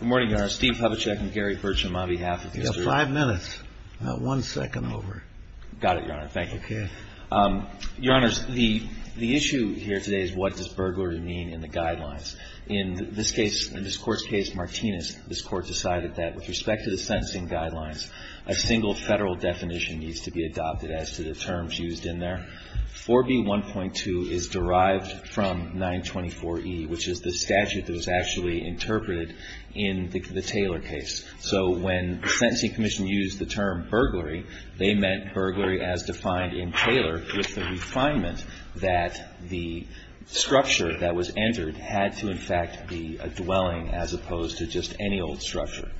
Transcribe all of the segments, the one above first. Good morning, Your Honor. Steve Hubachek and Gary Burcham on behalf of the district. You have five minutes, not one second over. Got it, Your Honor. Thank you. Okay. Your Honors, the issue here today is what does burglary mean in the guidelines. In this case, in this Court's case, Martinez, this Court decided that with respect to the sentencing guidelines, a single federal definition needs to be adopted as to the terms used in there. 4B1.2 is derived from 924E, which is the statute that was actually interpreted in the Taylor case. So when the Sentencing Commission used the term burglary, they meant burglary as defined in Taylor with the refinement that the structure that was entered had to, in fact, be a dwelling as opposed to just any old structure.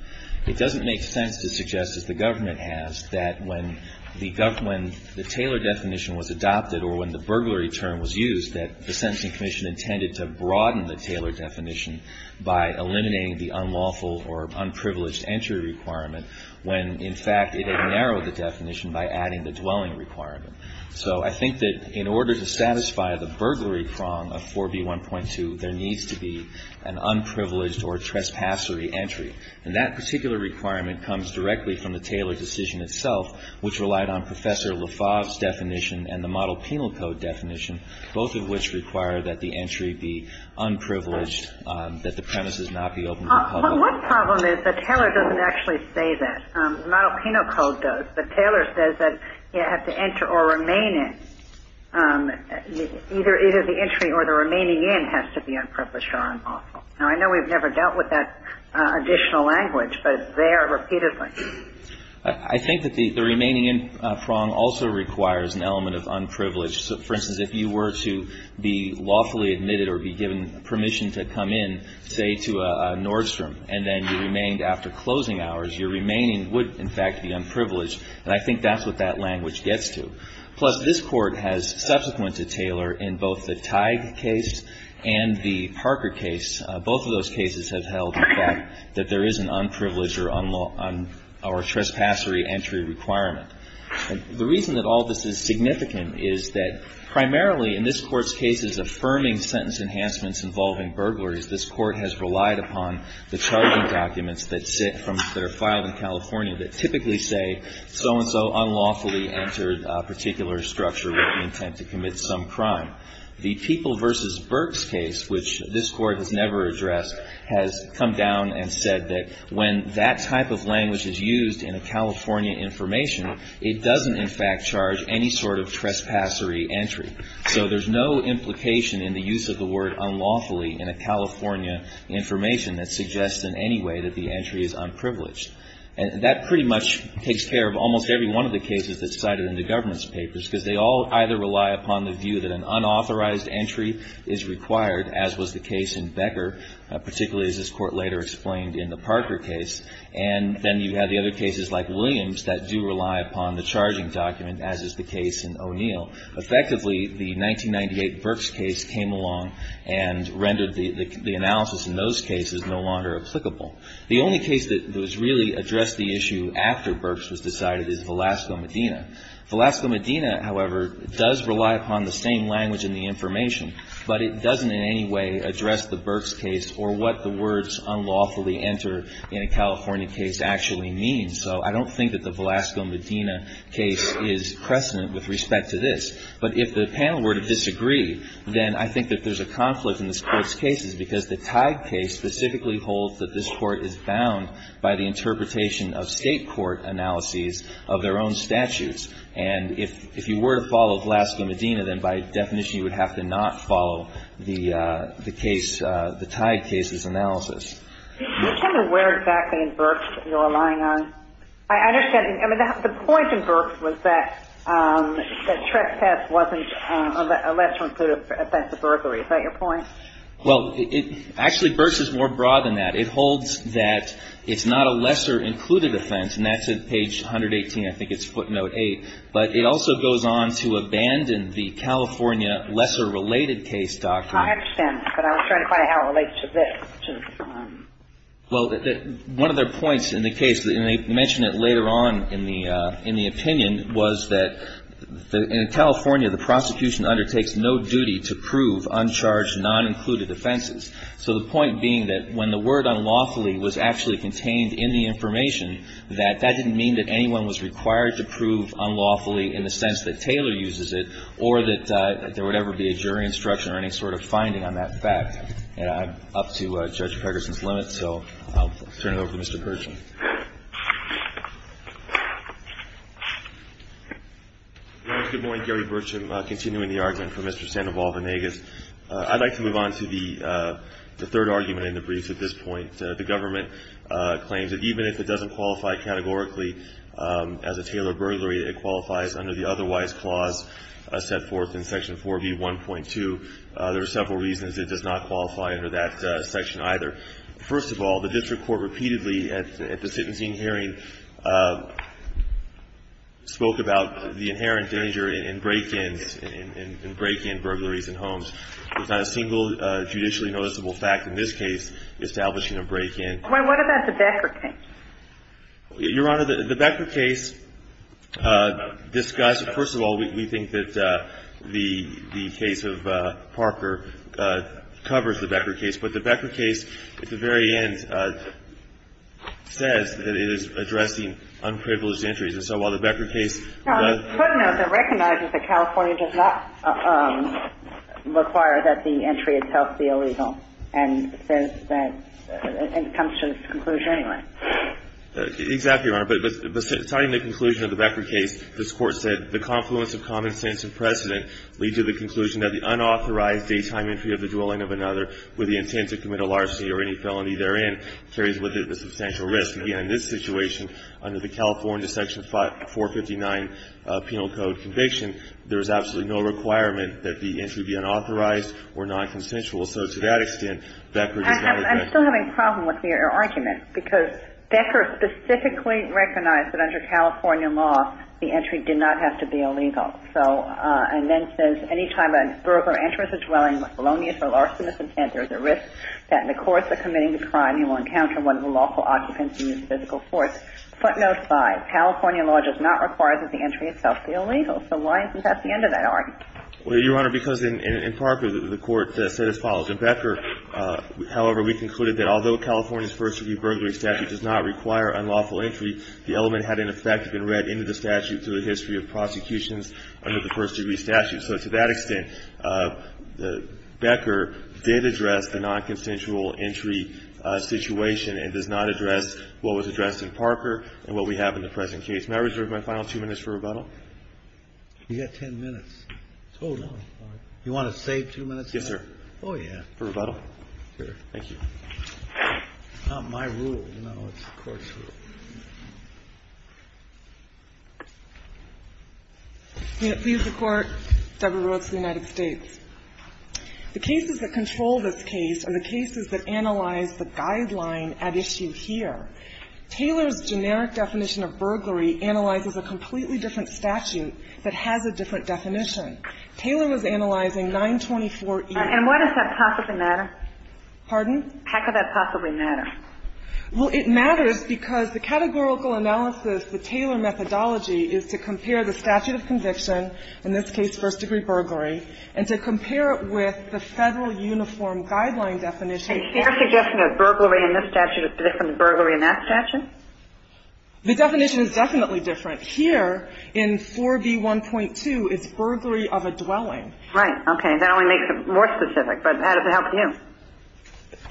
It doesn't make sense to suggest, as the government has, that when the Taylor definition was adopted or when the burglary term was used, that the Sentencing Commission intended to broaden the Taylor definition by eliminating the unlawful or unprivileged entry requirement when, in fact, it had narrowed the definition by adding the dwelling requirement. So I think that in order to satisfy the burglary prong of 4B1.2, there needs to be an unprivileged or trespassory entry. And that particular requirement comes directly from the Taylor decision itself, which relied on Professor LaFave's definition and the Model Penal Code definition, both of which require that the entry be unprivileged, that the premises not be open to the public. But one problem is that Taylor doesn't actually say that. Model Penal Code does. But Taylor says that you have to enter or remain in. Either the entry or the remaining in has to be unprivileged or unlawful. Now, I know we've never dealt with that additional language, but there repeatedly. I think that the remaining in prong also requires an element of unprivileged. So, for instance, if you were to be lawfully admitted or be given permission to come in, say, to a Nordstrom, and then you remained after closing hours, your remaining would, in fact, be unprivileged. And I think that's what that language gets to. Plus, this Court has, subsequent to Taylor, in both the Teig case and the Parker case, both of those cases have held the fact that there is an unprivileged or unlawful or trespassory entry requirement. The reason that all this is significant is that primarily in this Court's cases affirming sentence enhancements involving burglars, this Court has relied upon the charging documents that sit from their file in California that typically say so-and-so unlawfully entered a particular structure with the intent to commit some crime. The People v. Burks case, which this Court has never addressed, has come down and said that when that type of language is used in a California information, it doesn't, in fact, charge any sort of trespassory entry. So there's no implication in the use of the word unlawfully in a California information that suggests in any way that the entry is unprivileged. And that pretty much takes care of almost every one of the cases that's cited in the government's papers, because they all either rely upon the view that an unauthorized entry is required, as was the case in Becker, particularly as this Court later explained in the Parker case. And then you have the other cases like Williams that do rely upon the charging document, as is the case in O'Neill. Effectively, the 1998 Burks case came along and rendered the analysis in those cases no longer applicable. The only case that has really addressed the issue after Burks was decided is Velasco-Medina. Velasco-Medina, however, does rely upon the same language in the information, but it doesn't in any way address the Burks case or what the words unlawfully enter in a California case actually mean. So I don't think that the Velasco-Medina case is precedent with respect to this. But if the panel were to disagree, then I think that there's a conflict in this Court's cases, because the Tide case specifically holds that this Court is bound by the interpretation of State court analyses of their own statutes. And if you were to follow Velasco-Medina, then by definition you would have to not follow the case, the Tide case's analysis. Do you tell me where exactly in Burks you're relying on? I understand. I mean, the point in Burks was that the trespass wasn't a lesser included offense to burglary. Is that your point? Well, actually, Burks is more broad than that. It holds that it's not a lesser included offense, and that's at page 118. I think it's footnote 8. But it also goes on to abandon the California lesser related case doctrine. I understand. But I was trying to find out how it relates to this. Well, one of their points in the case, and they mention it later on in the opinion, was that in California the prosecution undertakes no duty to prove uncharged, non-included offenses. So the point being that when the word unlawfully was actually contained in the information, that that didn't mean that anyone was required to prove unlawfully in the sense that Taylor uses it or that there would ever be a jury instruction or any sort of finding on that fact. And I'm up to Judge Ferguson's limit, so I'll turn it over to Mr. Pershing. Good morning, Gary Burcham, continuing the argument for Mr. Sandoval-Vanegas. I'd like to move on to the third argument in the briefs at this point. The government claims that even if it doesn't qualify categorically as a Taylor burglary, it qualifies under the otherwise clause set forth in Section 4B1.2. There are several reasons it does not qualify under that section either. First of all, the district court repeatedly at the sentencing hearing spoke about the inherent danger in break-ins, in break-in burglaries in homes. There's not a single judicially noticeable fact in this case establishing a break-in. Well, what about the Becker case? Your Honor, the Becker case, first of all, we think that the case of Parker covers the Becker case, but the Becker case at the very end says that it is addressing unprivileged entries. And so while the Becker case does not – Well, it's footnote that recognizes that California does not require that the entry itself be illegal and says that – and comes to this conclusion anyway. Exactly, Your Honor. But citing the conclusion of the Becker case, this Court said, the confluence of common sense and precedent leads to the conclusion that the unauthorized daytime entry of the dwelling of another with the intent to commit a larceny or any felony therein carries with it a substantial risk. Again, in this situation, under the California section 459 penal code conviction, there is absolutely no requirement that the entry be unauthorized or nonconsensual. So to that extent, Becker does not – I'm still having a problem with your argument because Becker specifically recognized that under California law, the entry did not have to be illegal. So – and then says anytime a burglar enters a dwelling with a felonious or larcenous intent, there is a risk that in the course of committing the crime, he will encounter one of the lawful occupants in his physical force. Footnote 5, California law does not require that the entry itself be illegal. So why isn't that the end of that argument? Well, Your Honor, because in Parker, the Court said as follows. In Becker, however, we concluded that although California's first-degree burglary statute does not require unlawful entry, the element had in effect been read into the statute through the history of prosecutions under the first-degree statute. So to that extent, Becker did address the nonconsensual entry situation and does not address what was addressed in Parker and what we have in the present case. May I reserve my final two minutes for rebuttal? You've got ten minutes total. You want to save two minutes? Yes, sir. Oh, yeah. For rebuttal? Sure. Thank you. It's not my rule. No, it's the Court's rule. Please record, Deborah Rhodes of the United States. The cases that control this case are the cases that analyze the guideline at issue here. Taylor's generic definition of burglary analyzes a completely different statute that has a different definition. Taylor was analyzing 924E. And why does that possibly matter? Pardon? How could that possibly matter? Well, it matters because the categorical analysis, the Taylor methodology, is to compare the statute of conviction, in this case first-degree burglary, and to compare it with the Federal Uniform Guideline definition. Is their suggestion of burglary in this statute different than burglary in that statute? The definition is definitely different. Here, in 4B1.2, it's burglary of a dwelling. Right. Okay. That only makes it more specific. But how does it help you?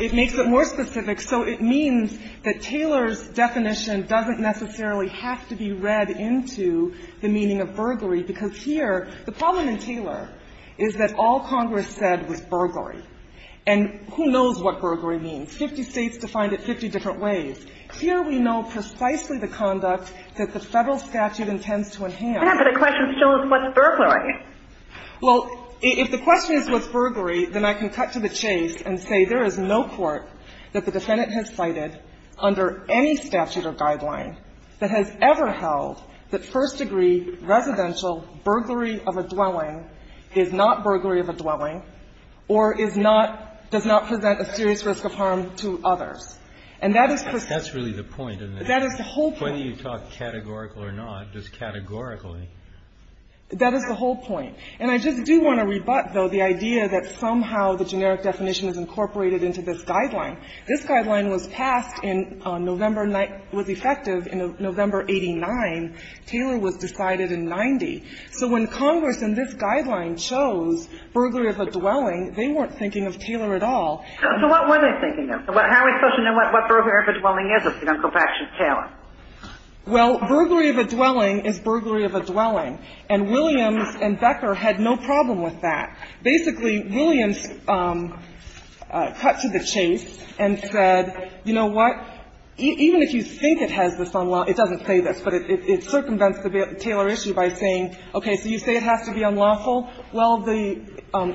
It makes it more specific. So it means that Taylor's definition doesn't necessarily have to be read into the meaning of burglary, because here, the problem in Taylor is that all Congress said was burglary. And who knows what burglary means? Fifty States defined it 50 different ways. Here we know precisely the conduct that the Federal statute intends to enhance. Yes, but the question still is what's burglary? Well, if the question is what's burglary, then I can cut to the chase and say there is no court that the defendant has cited under any statute or guideline that has ever held that first-degree residential burglary of a dwelling is not burglary of a dwelling or is not, does not present a serious risk of harm to others. And that is precisely the point. That's really the point, isn't it? That is the whole point. Whether you talk categorical or not, just categorically. That is the whole point. And I just do want to rebut, though, the idea that somehow the generic definition is incorporated into this guideline. This guideline was passed in November, was effective in November 89. Taylor was decided in 90. So when Congress in this guideline chose burglary of a dwelling, they weren't thinking of Taylor at all. So what were they thinking of? How are we supposed to know what burglary of a dwelling is if we don't go back to Taylor? Well, burglary of a dwelling is burglary of a dwelling. And Williams and Becker had no problem with that. Basically, Williams cut to the chase and said, you know what, even if you think it has this unlawful, it doesn't say this, but it circumvents the Taylor issue by saying, okay, so you say it has to be unlawful. Well, the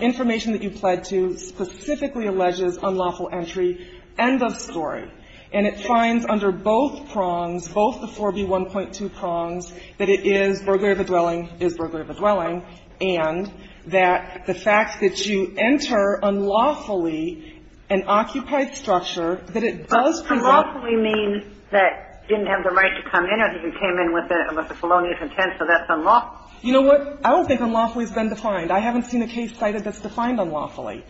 information that you pled to specifically alleges unlawful entry. End of story. And it finds under both prongs, both the 4B1.2 prongs, that it is burglary of a dwelling, is burglary of a dwelling, and that the fact that you enter unlawfully an occupied structure, that it does present. But unlawfully means that you didn't have the right to come in or that you came in with a felonious intent, so that's unlawful. You know what? I don't think unlawfully has been defined. I haven't seen a case cited that's defined unlawfully.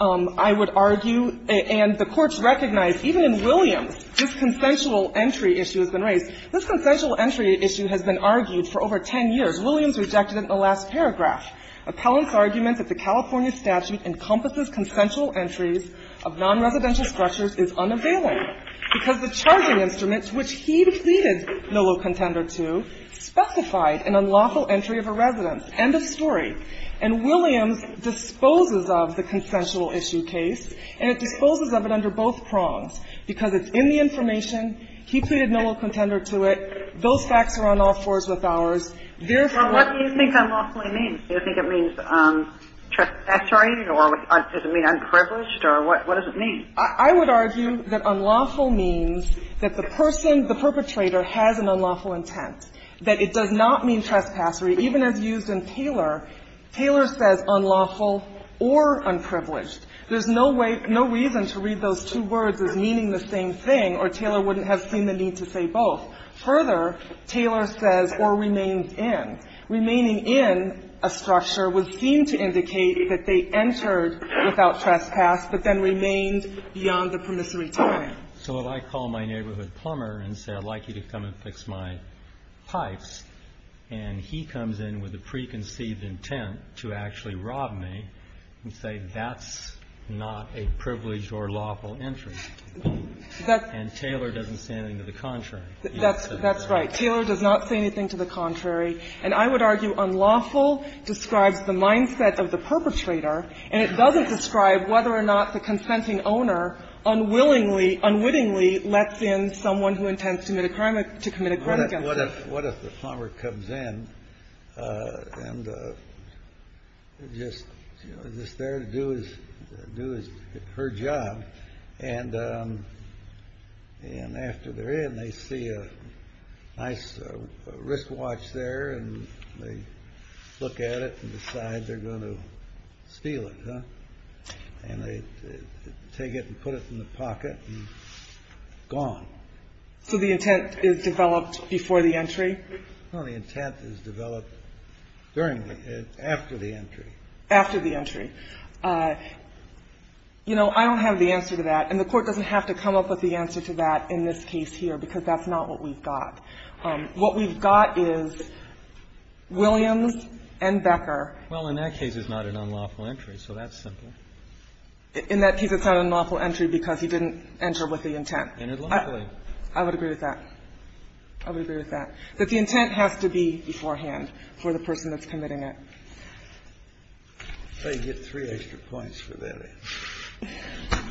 I would argue, and the courts recognize, even in Williams, this consensual entry issue has been raised. This consensual entry issue has been argued for over 10 years. Williams rejected it in the last paragraph. Appellant's argument that the California statute encompasses consensual entries of nonresidential structures is unavailable, because the charging instruments which he pleaded Millow contender to specified an unlawful entry of a residence. End of story. And Williams disposes of the consensual issue case, and it disposes of it under both prongs, because it's in the information. He pleaded Millow contender to it. Those facts are on all fours with ours. Therefore, what do you think unlawfully means? Do you think it means trespassery, or does it mean unprivileged, or what does it mean? I would argue that unlawful means that the person, the perpetrator, has an unlawful intent, that it does not mean trespassery, even as used in Taylor. Taylor says unlawful or unprivileged. There's no way, no reason to read those two words as meaning the same thing, or Taylor wouldn't have seen the need to say both. Further, Taylor says or remains in. Remaining in a structure would seem to indicate that they entered without trespass but then remained beyond the permissory time. So if I call my neighborhood plumber and say I'd like you to come and fix my pipes, and he comes in with a preconceived intent to actually rob me and say that's not a privileged or lawful entry, and Taylor doesn't say anything to the contrary. That's right. Taylor does not say anything to the contrary. And I would argue unlawful describes the mindset of the perpetrator, and it doesn't describe whether or not the consenting owner unwillingly, unwittingly lets in someone who intends to commit a crime or to commit a crime again. What if the plumber comes in and just, you know, is just there to do his, do her job, and after they're in, they see a nice wristwatch there and they look at it and decide they're going to steal it, huh? And they take it and put it in the pocket and gone. So the intent is developed before the entry? No, the intent is developed during the entry, after the entry. After the entry. You know, I don't have the answer to that, and the Court doesn't have to come up with the answer to that in this case here because that's not what we've got. What we've got is Williams and Becker. Well, in that case, it's not an unlawful entry, so that's simple. In that case, it's not an unlawful entry because he didn't enter with the intent. Entered lawfully. I would agree with that. I would agree with that. That the intent has to be beforehand for the person that's committing it. So you get three extra points for that answer.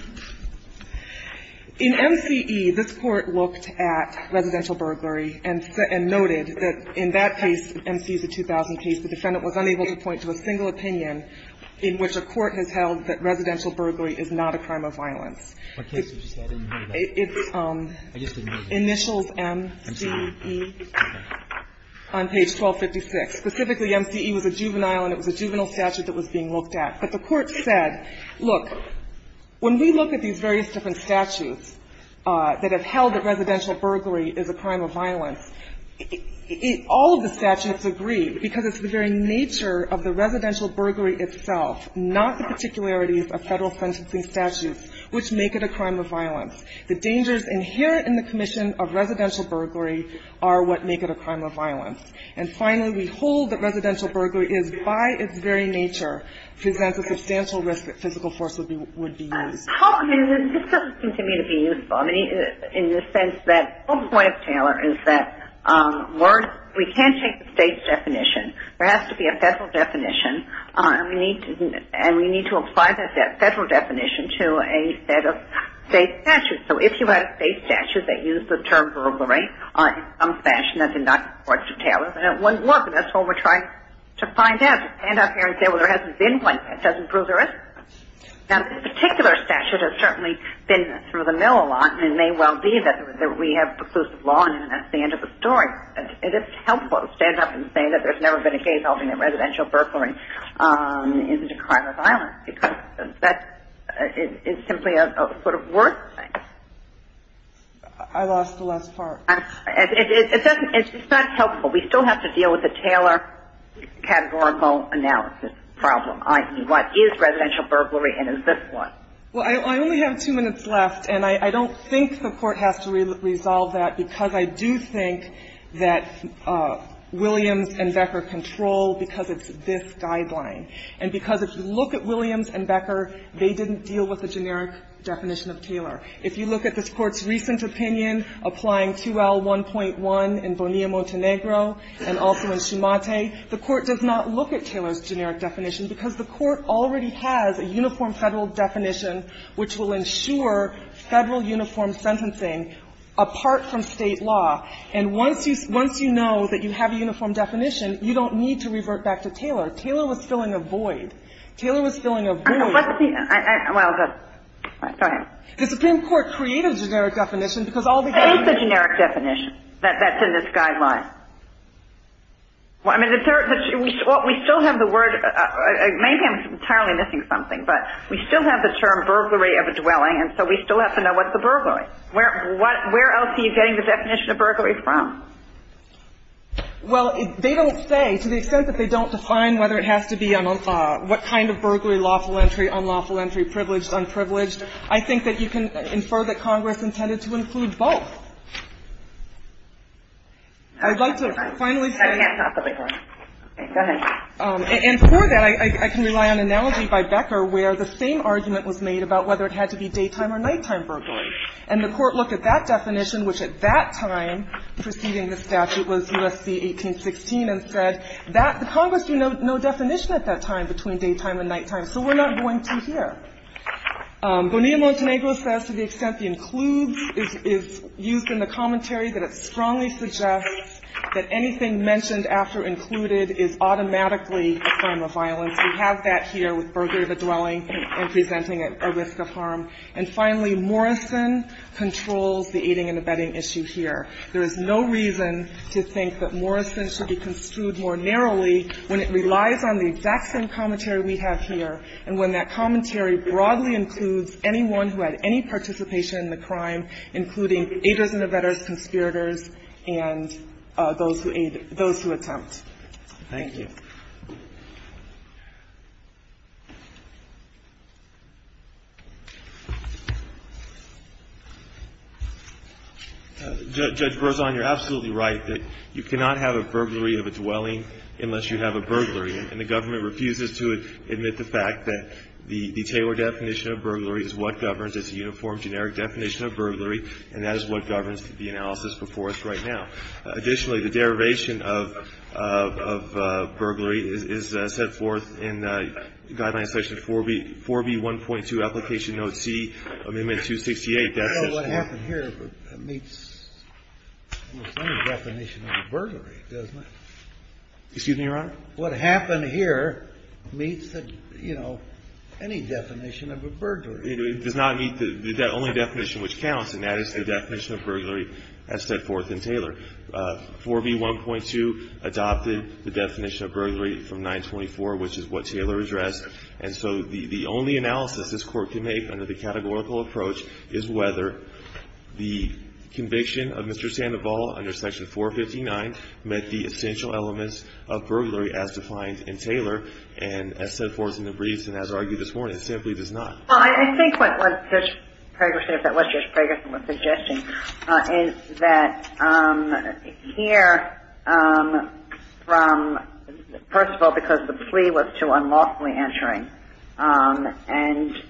In MCE, this Court looked at residential burglary and noted that in that case, MCE's the defendant was unable to point to a single opinion in which a court has held that residential burglary is not a crime of violence. It's initials MCE on page 1256. Specifically, MCE was a juvenile and it was a juvenile statute that was being looked at. But the Court said, look, when we look at these various different statutes that have held that residential burglary is a crime of violence, all of the statutes agree because it's the very nature of the residential burglary itself, not the particularities of Federal sentencing statutes, which make it a crime of violence. The dangers inherent in the commission of residential burglary are what make it a crime of violence. And finally, we hold that residential burglary is, by its very nature, presents a substantial risk that physical force would be used. This doesn't seem to me to be useful. I mean, in the sense that the whole point of Taylor is that we can't take the state's definition. There has to be a Federal definition and we need to apply that Federal definition to a set of state statutes. So if you had a state statute that used the term burglary in some fashion, that did not work for Taylor. But it wouldn't work, and that's what we're trying to find out, to stand up here and say, well, there hasn't been one that doesn't prove there is. Now, this particular statute has certainly been through the mill a lot, and it may well be that we have preclusive law, and that's the end of the story. And it's helpful to stand up and say that there's never been a case of residential burglary is a crime of violence, because that is simply a sort of worthless thing. I lost the last part. It's just not helpful. We still have to deal with the Taylor categorical analysis problem. I mean, what is residential burglary and is this one? Well, I only have two minutes left, and I don't think the Court has to resolve that because I do think that Williams and Becker control because it's this guideline. And because if you look at Williams and Becker, they didn't deal with the generic definition of Taylor. If you look at this Court's recent opinion applying 2L1.1 in Bonilla-Montenegro and also in Shumate, the Court does not look at Taylor's generic definition because the Court already has a uniform Federal definition which will ensure Federal uniform sentencing apart from State law. And once you know that you have a uniform definition, you don't need to revert back to Taylor. Taylor was filling a void. Taylor was filling a void. The Supreme Court created a generic definition because all these other things. And if you look at this Court's recent opinion applying 2L1.1 in Bonilla-Montenegro and also in Shumate, the Court does not look at Taylor's generic definition. That's in this guideline. I mean, we still have the word. Maybe I'm entirely missing something, but we still have the term burglary of a dwelling, and so we still have to know what's a burglary. Where else are you getting the definition of burglary from? Well, they don't say. To the extent that they don't define whether it has to be what kind of burglary, lawful entry, unlawful entry, privileged, unprivileged, I think that you can infer that Congress intended to include both. I would like to finally say that. And before that, I can rely on an analogy by Becker where the same argument was made about whether it had to be daytime or nighttime burglary. And the Court looked at that definition, which at that time preceding the statute was U.S.C. 1816, and said that the Congress knew no definition at that time between daytime and nighttime, so we're not going to here. Bonilla-Montenegro says to the extent it includes is used in the commentary that it strongly suggests that anything mentioned after included is automatically a crime of violence. We have that here with burglary of a dwelling and presenting it a risk of harm. And finally, Morrison controls the aiding and abetting issue here. There is no reason to think that Morrison should be construed more narrowly when it relies on the exact same commentary we have here and when that commentary broadly includes anyone who had any participation in the crime, including aiders and abettors, conspirators, and those who aid those who attempt. Thank you. Thank you. Judge Berzon, you're absolutely right that you cannot have a burglary of a dwelling unless you have a burglary. And the government refuses to admit the fact that the Taylor definition of burglary is what governs. It's a uniform, generic definition of burglary, and that is what governs the analysis before us right now. Additionally, the derivation of burglary is set forth in Guideline Section 4B1.2 Application Note C, Amendment 268. I don't know what happened here that meets any definition of a burglary, doesn't it? Excuse me, Your Honor? What happened here meets, you know, any definition of a burglary. It does not meet the only definition which counts, and that is the definition of burglary as set forth in Taylor. 4B1.2 adopted the definition of burglary from 924, which is what Taylor addressed. And so the only analysis this Court can make under the categorical approach is whether the conviction of Mr. Sandoval under Section 459 met the essential elements of burglary as defined in Taylor, and as set forth in the briefs and as argued this morning, it simply does not. Well, I think what Judge Prager said, if that was Judge Prager's suggestion, is that here from, first of all, because the plea was too unlawfully answering, and,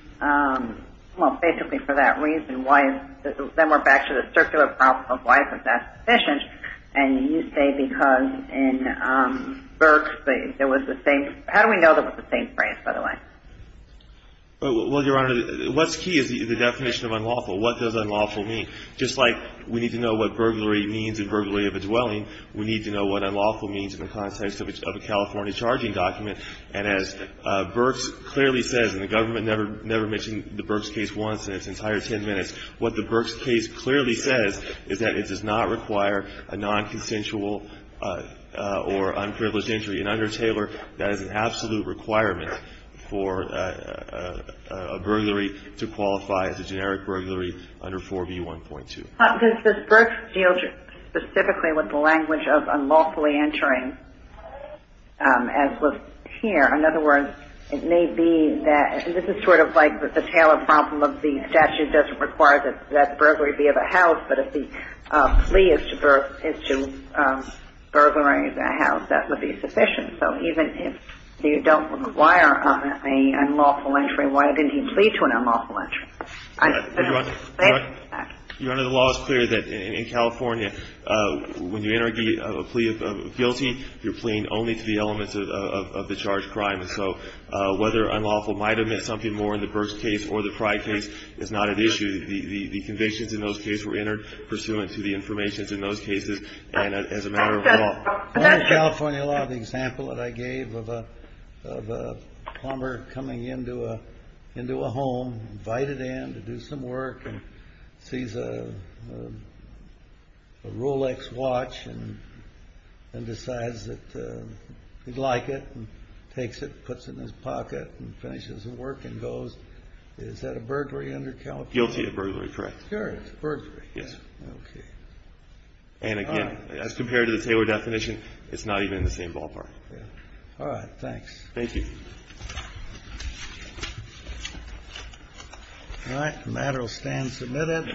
well, basically for that reason, why is, then we're back to the circular problem of why is that sufficient, and you say because in Burke, there was the same, how do we know there was the same phrase, by the way? Well, Your Honor, what's key is the definition of unlawful. What does unlawful mean? Just like we need to know what burglary means in burglary of a dwelling, we need to know what unlawful means in the context of a California charging document. And as Burke clearly says, and the government never mentioned the Burkes case once in its entire ten minutes, what the Burkes case clearly says is that it does not require a nonconsensual or unprivileged injury. And under Taylor, that is an absolute requirement for a burglary to qualify as a generic burglary under 4B1.2. But does Burke deal specifically with the language of unlawfully entering as was here? In other words, it may be that this is sort of like the Taylor problem of the statute doesn't require that that burglary be of a house, but if the plea is to burglary of a house, that would be sufficient. So even if you don't require an unlawful entry, why didn't he plead to an unlawful entry? Your Honor, the law is clear that in California, when you enter a plea of guilty, you're pleading only to the elements of the charged crime. And so whether unlawful might have meant something more in the Burkes case or the Pride case is not at issue. The convictions in those cases were entered pursuant to the information in those cases, and as a matter of law. In California law, the example that I gave of a plumber coming into a home, invited in to do some work, and sees a Rolex watch and decides that he'd like it, and takes it, puts it in his pocket, and finishes the work and goes, is that a burglary under California law? Guilty of burglary, correct. Sure, it's a burglary. Yes. Okay. And again, as compared to the Taylor definition, it's not even in the same ballpark. All right. Thanks. Thank you. All right. The matter will stand submitted.